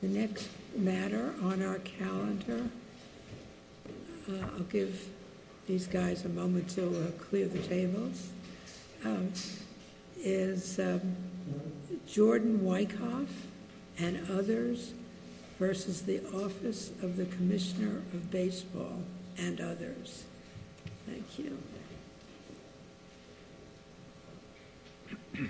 The next matter on our calendar, I'll give these guys a moment to clear the tables, is Jordan Weckoff and others v. Office of the Commissioner of Baseball and others. Mr. Weckoff.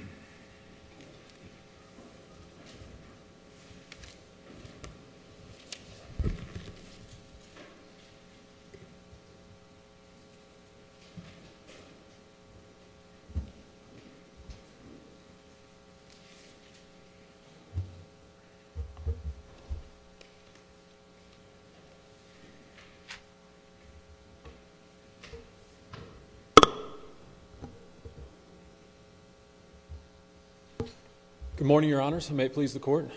Good morning, Your Honors, and may it please the Court.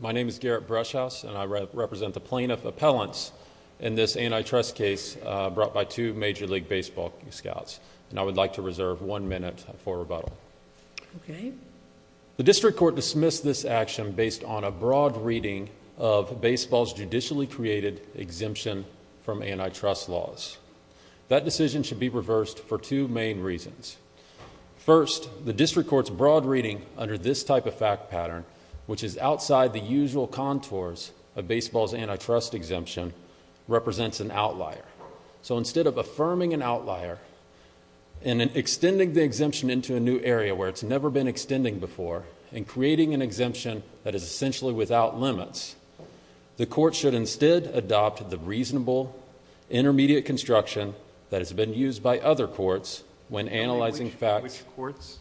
My name is Garrett Brushouse, and I represent the plaintiff appellants in this antitrust case brought by two Major League Baseball scouts. And I would like to reserve one minute for rebuttal. Okay. The district court dismissed this action based on a broad reading of baseball's judicially created exemption from antitrust laws. That decision should be reversed for two main reasons. First, the district court's broad reading under this type of fact pattern, which is outside the usual contours of baseball's antitrust exemption, represents an outlier. So instead of affirming an outlier and extending the exemption into a new area where it's never been extended before and creating an exemption that is essentially without limits, the court should instead adopt the reasonable intermediate construction that has been used by other courts when analyzing facts... Which courts?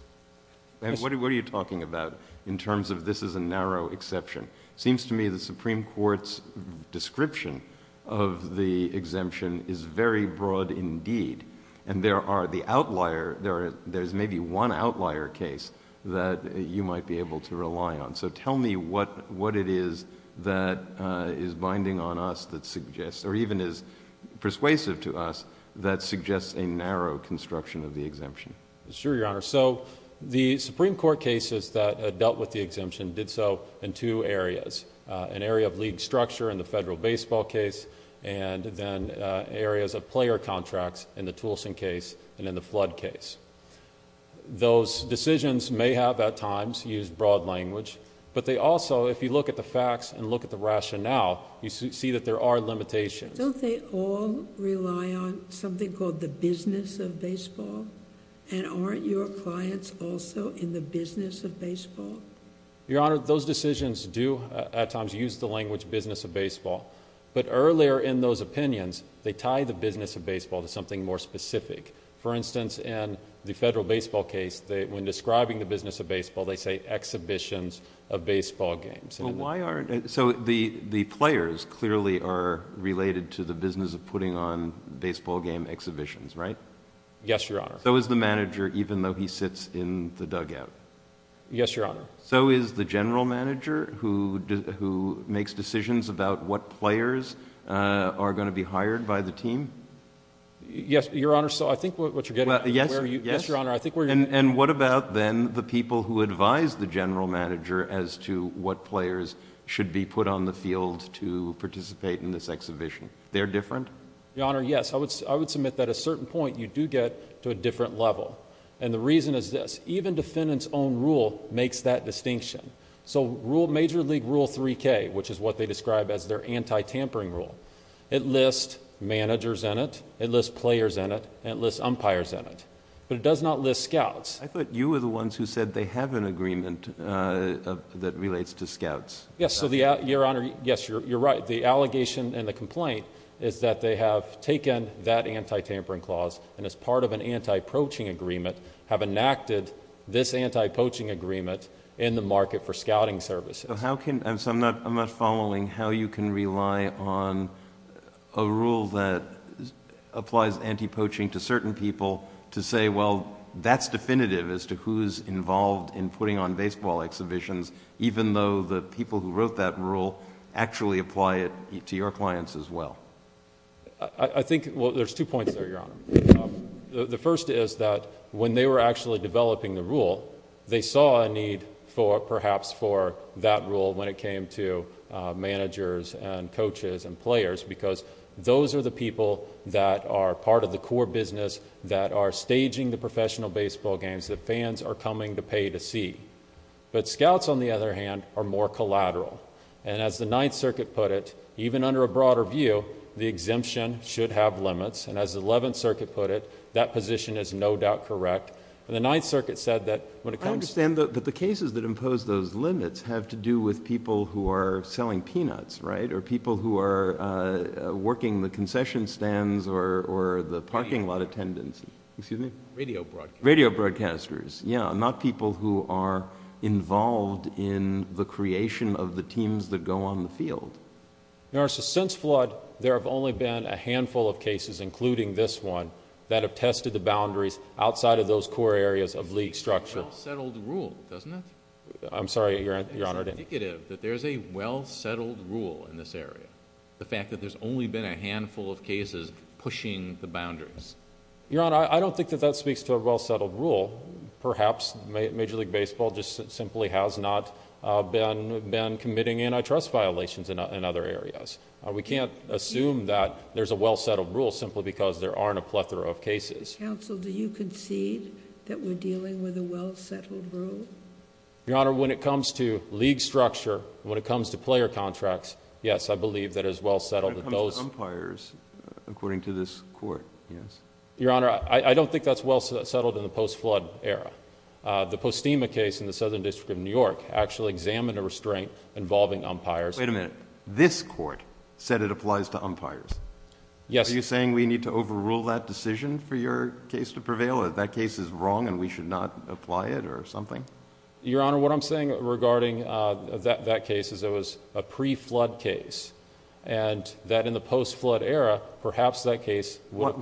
What are you talking about in terms of this is a narrow exception? It seems to me the Supreme Court's description of the exemption is very broad indeed. And there are the outlier... there's maybe one outlier case that you might be able to rely on. So tell me what it is that is binding on us that suggests, or even is persuasive to us, that suggests a narrow construction of the exemption. Sure, Your Honor. So the Supreme Court cases that dealt with the exemption did so in two areas. An area of league structure in the federal baseball case, and then areas of player contracts in the Toulson case and in the Flood case. Those decisions may have at times used broad language, but they also, if you look at the facts and look at the rationale, you see that there are limitations. Don't they all rely on something called the business of baseball? And aren't your clients also in the business of baseball? Your Honor, those decisions do at times use the language business of baseball. But earlier in those opinions, they tie the business of baseball to something more specific. For instance, in the federal baseball case, when describing the business of baseball, they say exhibitions of baseball games. So the players clearly are related to the business of putting on baseball game exhibitions, right? Yes, Your Honor. So is the manager, even though he sits in the dugout? Yes, Your Honor. So is the general manager who makes decisions about what players are going to be hired by the team? Yes, Your Honor. So I think what you're getting at is where you— Yes, Your Honor. And what about then the people who advise the general manager as to what players should be put on the field to participate in this exhibition? They're different? Your Honor, yes. I would submit that at a certain point, you do get to a different level. And the reason is this. Even defendants' own rule makes that distinction. So Major League Rule 3K, which is what they describe as their anti-tampering rule, it lists managers in it, it lists players in it, and it lists umpires in it. But it does not list scouts. I thought you were the ones who said they have an agreement that relates to scouts. Yes, Your Honor. Yes, you're right. The allegation and the complaint is that they have taken that anti-tampering clause and as part of an anti-poaching agreement, have enacted this anti-poaching agreement in the market for scouting services. So I'm not following how you can rely on a rule that applies anti-poaching to certain people to say, well, that's definitive as to who's involved in putting on baseball exhibitions, even though the people who wrote that rule actually apply it to your clients as well. I think there's two points there, Your Honor. The first is that when they were actually developing the rule, they saw a need for perhaps for that rule when it came to managers and coaches and players because those are the people that are part of the core business that are staging the professional baseball games that fans are coming to pay to see. But scouts, on the other hand, are more collateral. And as the Ninth Circuit put it, even under a broader view, the exemption should have limits. And as the Eleventh Circuit put it, that position is no doubt correct. And the Ninth Circuit said that when it comes to... I understand that the cases that impose those limits have to do with people who are selling peanuts, right, or people who are working the concession stands or the parking lot attendants. Excuse me? Radio broadcasters. Radio broadcasters, yeah, not people who are involved in the creation of the teams that go on the field. Your Honor, so since flood, there have only been a handful of cases, including this one, that have tested the boundaries outside of those core areas of league structure. It's a well-settled rule, doesn't it? I'm sorry, Your Honor. It's indicative that there's a well-settled rule in this area, the fact that there's only been a handful of cases pushing the boundaries. Your Honor, I don't think that that speaks to a well-settled rule. Perhaps Major League Baseball just simply has not been committing antitrust violations in other areas. We can't assume that there's a well-settled rule simply because there aren't a plethora of cases. Counsel, do you concede that we're dealing with a well-settled rule? Your Honor, when it comes to league structure, when it comes to player contracts, yes, I believe that it is well-settled that those... Your Honor, I don't think that's well-settled in the post-flood era. The Postema case in the Southern District of New York actually examined a restraint involving umpires. Wait a minute. This court said it applies to umpires. Yes. Are you saying we need to overrule that decision for your case to prevail or that case is wrong and we should not apply it or something? Your Honor, what I'm saying regarding that case is it was a pre-flood case and that in the post-flood era, perhaps that case... What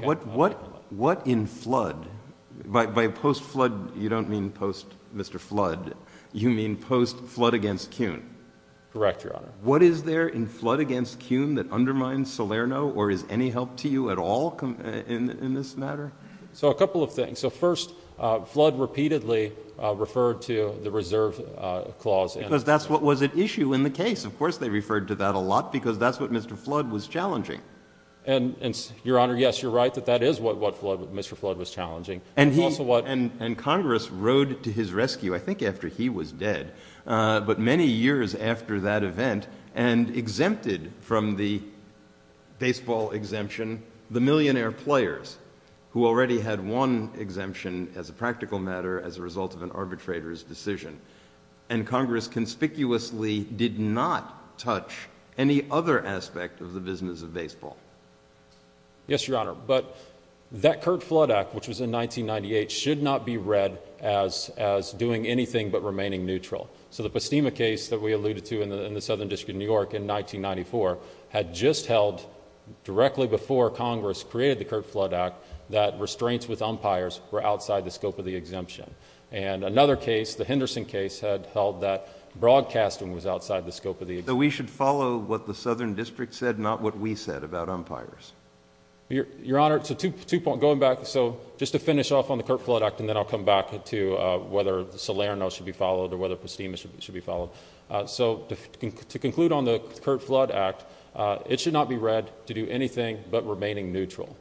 in flood? By post-flood, you don't mean post-Mr. Flood. You mean post-flood against Kuhn. Correct, Your Honor. What is there in flood against Kuhn that undermines Salerno or is any help to you at all in this matter? So, a couple of things. So, first, flood repeatedly referred to the reserve clause. Because that's what was at issue in the case. Of course, they referred to that a lot because that's what Mr. Flood was challenging. And, Your Honor, yes, you're right that that is what Mr. Flood was challenging. And he's also what... And Congress rode to his rescue, I think after he was dead, but many years after that event and exempted from the baseball exemption the millionaire players who already had one exemption as a practical matter as a result of an arbitrator's decision. And Congress conspicuously did not touch any other aspect of the business of baseball. Yes, Your Honor. But that Curt Flood Act, which was in 1998, should not be read as doing anything but remaining neutral. So, the Postema case that we alluded to in the Southern District of New York in 1994 had just held directly before Congress created the Curt Flood Act that restraints with umpires were outside the scope of the exemption. And another case, the Henderson case, had held that broadcasting was outside the scope of the exemption. So, we should follow what the Southern District said, not what we said about umpires? Your Honor, going back, just to finish off on the Curt Flood Act, and then I'll come back to whether Salerno should be followed or whether Postema should be followed. So, to conclude on the Curt Flood Act, it should not be read to do anything but remaining neutral.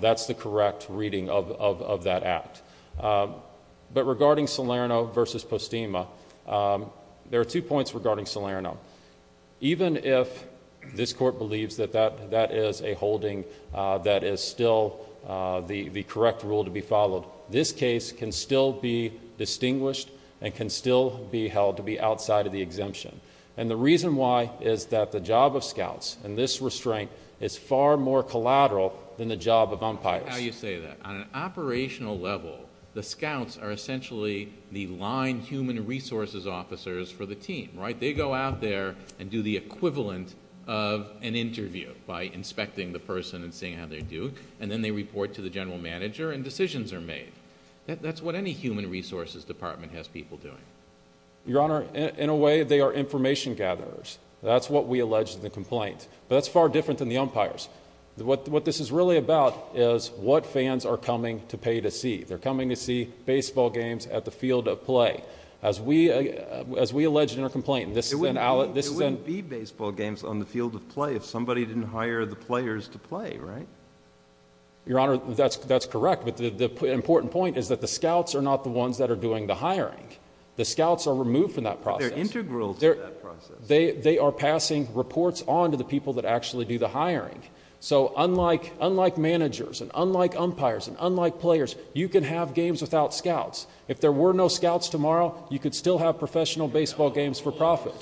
That's the correct reading of that act. But regarding Salerno versus Postema, there are two points regarding Salerno. Even if this Court believes that that is a holding that is still the correct rule to be followed, this case can still be distinguished and can still be held to be outside of the exemption. And the reason why is that the job of scouts in this restraint is far more collateral than the job of umpires. I like how you say that. On an operational level, the scouts are essentially the line human resources officers for the team, right? They go out there and do the equivalent of an interview by inspecting the person and seeing how they do. And then they report to the general manager and decisions are made. That's what any human resources department has people doing. Your Honor, in a way, they are information gatherers. That's what we allege in the complaint. But that's far different than the umpires. What this is really about is what fans are coming to pay to see. They're coming to see baseball games at the field of play. As we allege in our complaint, this is an alit. There wouldn't be baseball games on the field of play if somebody didn't hire the players to play, right? Your Honor, that's correct. But the important point is that the scouts are not the ones that are doing the hiring. The scouts are removed from that process. But they're integral to that process. They are passing reports on to the people that actually do the hiring. So unlike managers and unlike umpires and unlike players, you can have games without scouts. If there were no scouts tomorrow, you could still have professional baseball games for profit.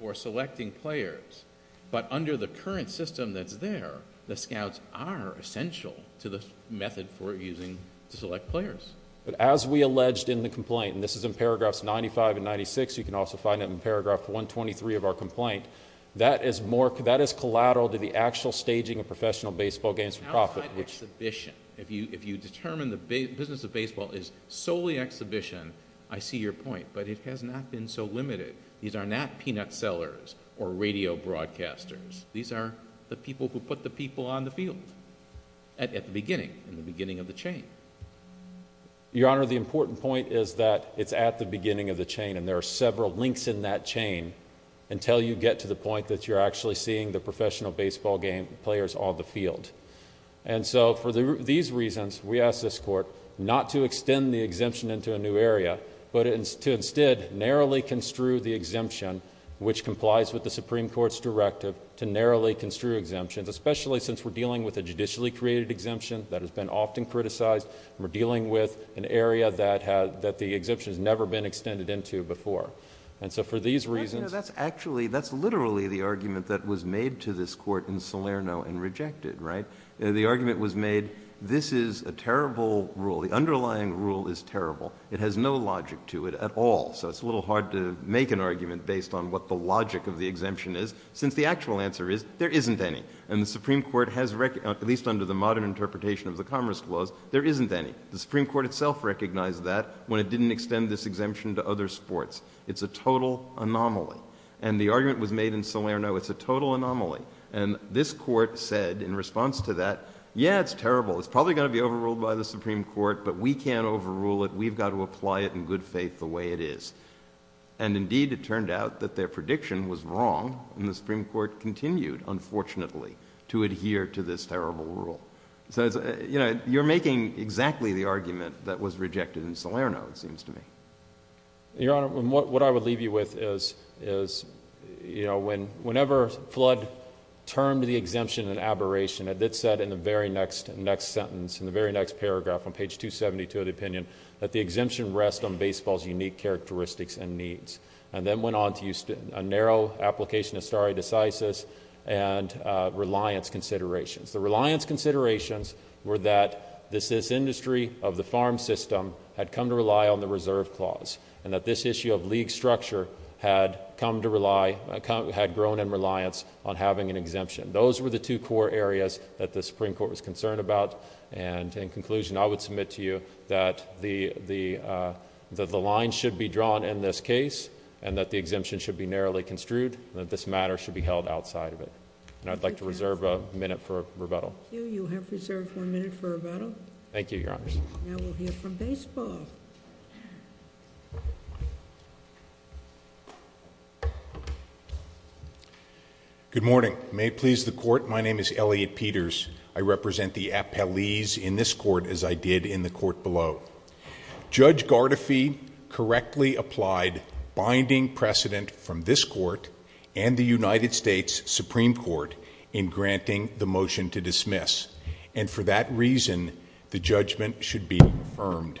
For selecting players. But under the current system that's there, the scouts are essential to the method for using to select players. But as we alleged in the complaint, and this is in paragraphs 95 and 96. You can also find it in paragraph 123 of our complaint. That is collateral to the actual staging of professional baseball games for profit. Outside exhibition. If you determine the business of baseball is solely exhibition, I see your point. But it has not been so limited. These are not peanut sellers or radio broadcasters. These are the people who put the people on the field. At the beginning. At the beginning of the chain. Your Honor, the important point is that it's at the beginning of the chain. And there are several links in that chain. Until you get to the point that you're actually seeing the professional baseball players on the field. And so for these reasons, we ask this court not to extend the exemption into a new area. But to instead narrowly construe the exemption. Which complies with the Supreme Court's directive to narrowly construe exemptions. Especially since we're dealing with a judicially created exemption. That has been often criticized. We're dealing with an area that the exemption has never been extended into before. And so for these reasons... That's literally the argument that was made to this court in Salerno and rejected. The argument was made, this is a terrible rule. The underlying rule is terrible. It has no logic to it at all. So it's a little hard to make an argument based on what the logic of the exemption is. Since the actual answer is, there isn't any. And the Supreme Court has recognized... At least under the modern interpretation of the Commerce Clause, there isn't any. The Supreme Court itself recognized that when it didn't extend this exemption to other sports. It's a total anomaly. And the argument was made in Salerno, it's a total anomaly. And this court said in response to that, yeah, it's terrible. It's probably going to be overruled by the Supreme Court. But we can't overrule it. We've got to apply it in good faith the way it is. And indeed, it turned out that their prediction was wrong. And the Supreme Court continued, unfortunately, to adhere to this terrible rule. So, you know, you're making exactly the argument that was rejected in Salerno, it seems to me. Your Honor, what I would leave you with is... You know, whenever Flood termed the exemption an aberration, it said in the very next sentence, in the very next paragraph, on page 272 of the opinion, that the exemption rests on baseball's unique characteristics and needs. And then went on to use a narrow application of stare decisis and reliance considerations. The reliance considerations were that this industry of the farm system had come to rely on the Reserve Clause. And that this issue of league structure had come to rely... had grown in reliance on having an exemption. Those were the two core areas that the Supreme Court was concerned about. And in conclusion, I would submit to you that the line should be drawn in this case. And that the exemption should be narrowly construed. And that this matter should be held outside of it. And I'd like to reserve a minute for rebuttal. Thank you. You have reserved one minute for rebuttal. Thank you, Your Honors. Now we'll hear from baseball. Good morning. May it please the Court, my name is Elliot Peters. I represent the appellees in this Court, as I did in the Court below. Judge Gardefee correctly applied binding precedent from this Court... and the United States Supreme Court, in granting the motion to dismiss. And for that reason, the judgment should be affirmed.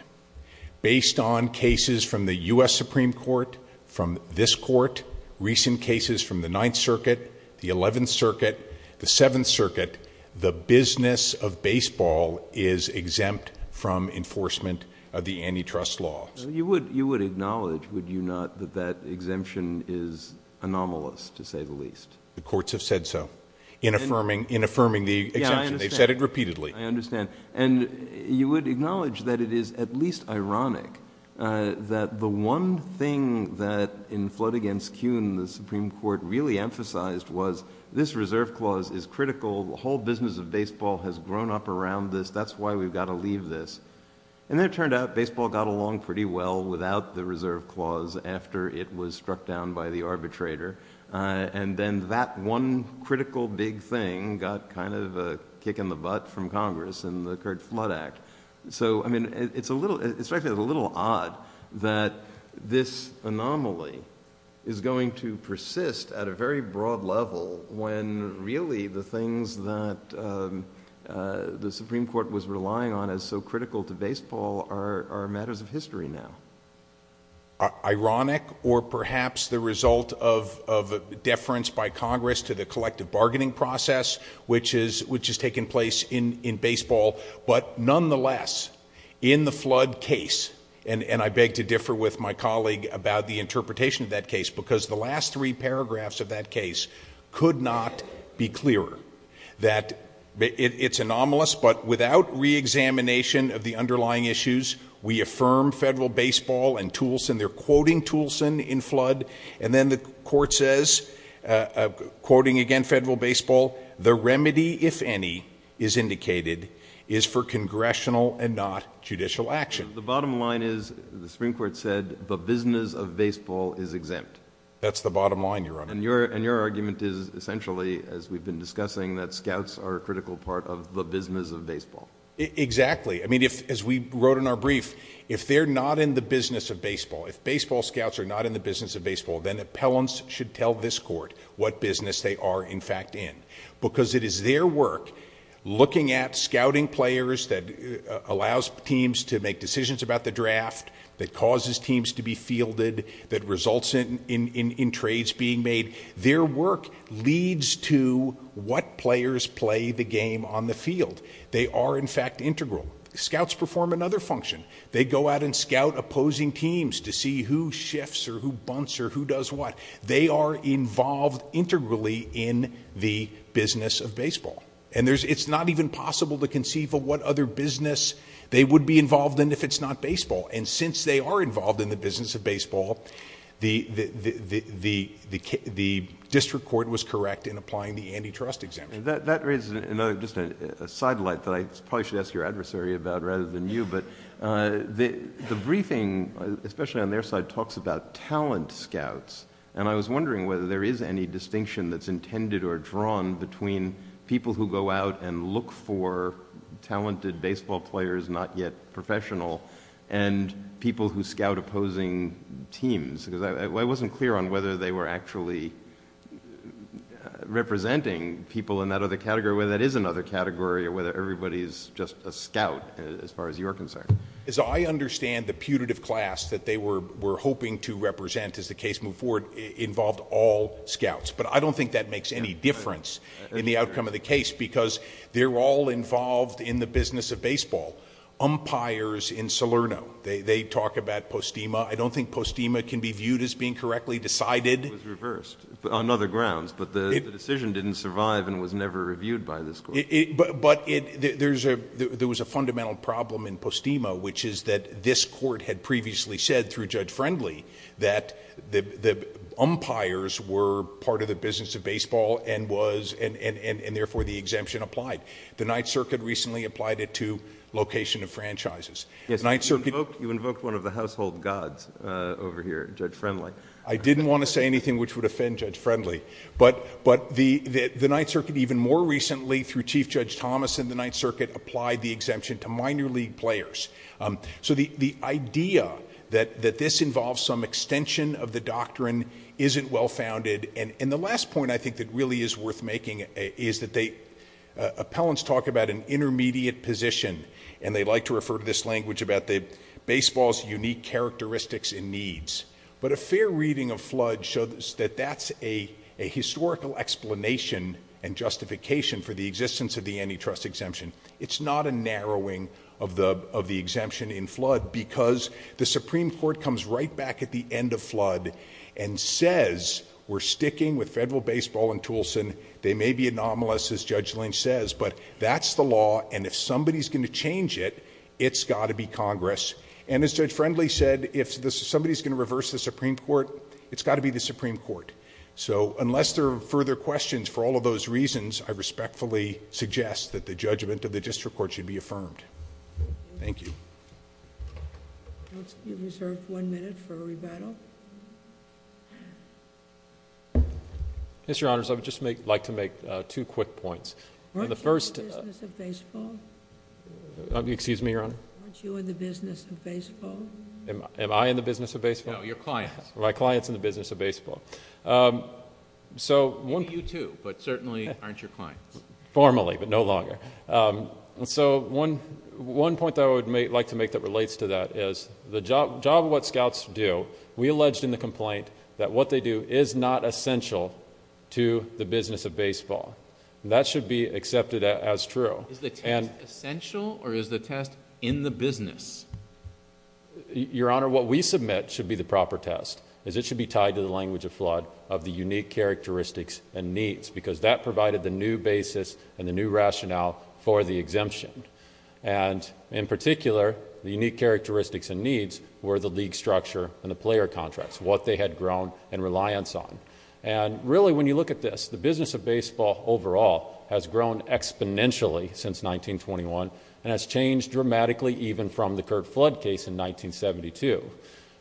Based on cases from the U.S. Supreme Court... from this Court... recent cases from the Ninth Circuit... the Eleventh Circuit... the Seventh Circuit... the business of baseball is exempt from enforcement of the antitrust law. You would acknowledge, would you not, that that exemption is anomalous, to say the least? The courts have said so, in affirming the exemption. They've said it repeatedly. I understand. And, you would acknowledge that it is at least ironic... that the one thing that in Flood against Kuhn, the Supreme Court really emphasized was... this reserve clause is critical. The whole business of baseball has grown up around this. That's why we've got to leave this. And it turned out, baseball got along pretty well without the reserve clause... after it was struck down by the arbitrator. And then, that one critical big thing got kind of a kick in the butt from Congress in the Curt Flood Act. So, I mean it's a little... it's actually a little odd that this anomaly is going to persist at a very broad level... when really the things that the Supreme Court was relying on as so critical to baseball... are matters of history now. Ironic, or perhaps the result of deference by Congress to the collective bargaining process... which is taking place in baseball. But, nonetheless, in the Flood case... and I beg to differ with my colleague about the interpretation of that case... because the last three paragraphs of that case could not be clearer. That it's anomalous, but without re-examination of the underlying issues... They're quoting Toulson in Flood. And then, the court says, quoting again Federal Baseball... The remedy, if any, is indicated, is for congressional and not judicial action. The bottom line is, the Supreme Court said, the business of baseball is exempt. That's the bottom line, Your Honor. And your argument is, essentially, as we've been discussing... that scouts are a critical part of the business of baseball. Exactly. I mean, as we wrote in our brief... If they're not in the business of baseball... If baseball scouts are not in the business of baseball... then, appellants should tell this court what business they are, in fact, in. Because, it is their work... looking at scouting players that allows teams to make decisions about the draft... that causes teams to be fielded... that results in trades being made. Their work leads to what players play the game on the field. They are, in fact, integral. Scouts perform another function. They go out and scout opposing teams... to see who shifts, or who bunts, or who does what. They are involved, integrally, in the business of baseball. And, there's... it's not even possible to conceive of what other business... they would be involved in, if it's not baseball. And, since they are involved in the business of baseball... the district court was correct in applying the antitrust exemption. That raises another... just a side light... that I probably should ask your adversary about, rather than you. But, the briefing, especially on their side, talks about talent scouts. And, I was wondering whether there is any distinction that's intended or drawn... between people who go out and look for talented baseball players, not yet professional... and people who scout opposing teams. Because, I wasn't clear on whether they were actually representing people in that other category... whether that is another category, or whether everybody is just a scout... as far as you're concerned. As I understand, the putative class that they were hoping to represent, as the case moved forward... involved all scouts. But, I don't think that makes any difference in the outcome of the case... because, they're all involved in the business of baseball. Umpires in Salerno. They talk about Postima. I don't think Postima can be viewed as being correctly decided. It was reversed, on other grounds. But, the decision didn't survive and was never reviewed by the school. But, there was a fundamental problem in Postima... which is that this court had previously said through Judge Friendly... that the umpires were part of the business of baseball and was... and therefore the exemption applied. The Ninth Circuit recently applied it to location of franchises. Yes, you invoked one of the household gods over here, Judge Friendly. I didn't want to say anything which would offend Judge Friendly. But, the Ninth Circuit even more recently, through Chief Judge Thomas in the Ninth Circuit... applied the exemption to minor league players. So, the idea that this involves some extension of the doctrine isn't well founded. And, the last point I think that really is worth making is that they... Appellants talk about an intermediate position. And, they like to refer to this language about the baseball's unique characteristics and needs. But, a fair reading of Flood shows that that's a historical explanation... and justification for the existence of the antitrust exemption. It's not a narrowing of the exemption in Flood... because the Supreme Court comes right back at the end of Flood... and says, we're sticking with federal baseball in Toulson. They may be anomalous, as Judge Lynch says. But, that's the law and if somebody's going to change it, it's got to be Congress. And, as Judge Friendly said, if somebody's going to reverse the Supreme Court... it's got to be the Supreme Court. So, unless there are further questions for all of those reasons... I respectfully suggest that the judgment of the district court should be affirmed. Thank you. Let's reserve one minute for rebuttal. Mr. Honors, I would just like to make two quick points. Aren't you in the business of baseball? Excuse me, Your Honor. Aren't you in the business of baseball? Am I in the business of baseball? No, your clients. Are my clients in the business of baseball? So, one... Maybe you two, but certainly aren't your clients. Formally, but no longer. So, one point that I would like to make that relates to that is... the job of what scouts do, we alleged in the complaint... that what they do is not essential to the business of baseball. That should be accepted as true. Is the test essential or is the test in the business? Your Honor, what we submit should be the proper test... as it should be tied to the language of flood of the unique characteristics and needs... because that provided the new basis and the new rationale for the exemption. And, in particular, the unique characteristics and needs were the league structure and the player contracts... what they had grown in reliance on. And, really when you look at this, the business of baseball overall... has grown exponentially since 1921... and has changed dramatically, even from the current flood case in 1972.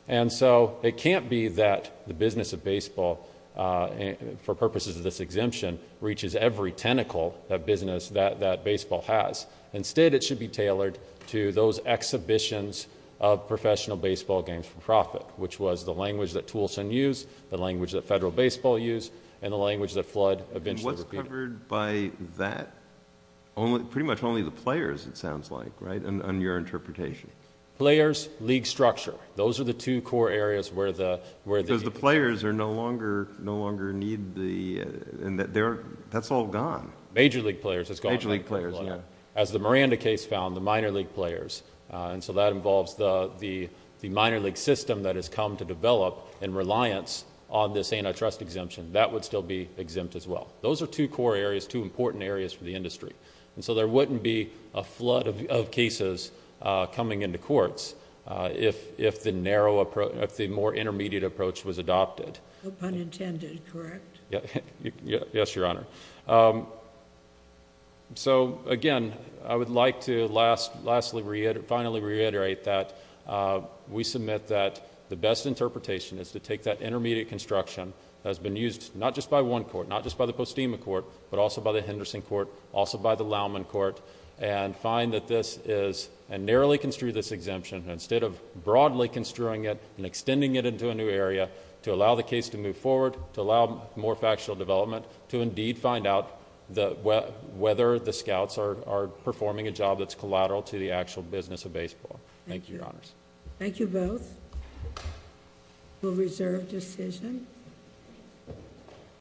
And so, it can't be that the business of baseball, for purposes of this exemption... reaches every tentacle of business that baseball has. Instead, it should be tailored to those exhibitions of professional baseball games for profit... which was the language that Toulson used, the language that Federal Baseball used... and the language that flood eventually... What's covered by that? Pretty much only the players, it sounds like, right? On your interpretation. Players, league structure. Those are the two core areas where the... Because the players are no longer, no longer need the... That's all gone. Major league players, it's gone. Major league players, yeah. As the Miranda case found, the minor league players. And so, that involves the minor league system that has come to develop... in reliance on this antitrust exemption. That would still be exempt as well. Those are two core areas, two important areas for the industry. And so, there wouldn't be a flood of cases coming into courts... if the narrow approach, if the more intermediate approach was adopted. Pun intended, correct? Yes, Your Honor. So, again, I would like to lastly reiterate, finally reiterate that... we submit that the best interpretation is to take that intermediate construction... has been used, not just by one court, not just by the Postima Court... but also by the Henderson Court, also by the Laumann Court... and find that this is, and narrowly construe this exemption... instead of broadly construing it and extending it into a new area... to allow the case to move forward, to allow more factual development... to indeed find out whether the scouts are performing a job... that's collateral to the actual business of baseball. Thank you, Your Honors. Thank you both. We'll reserve decision.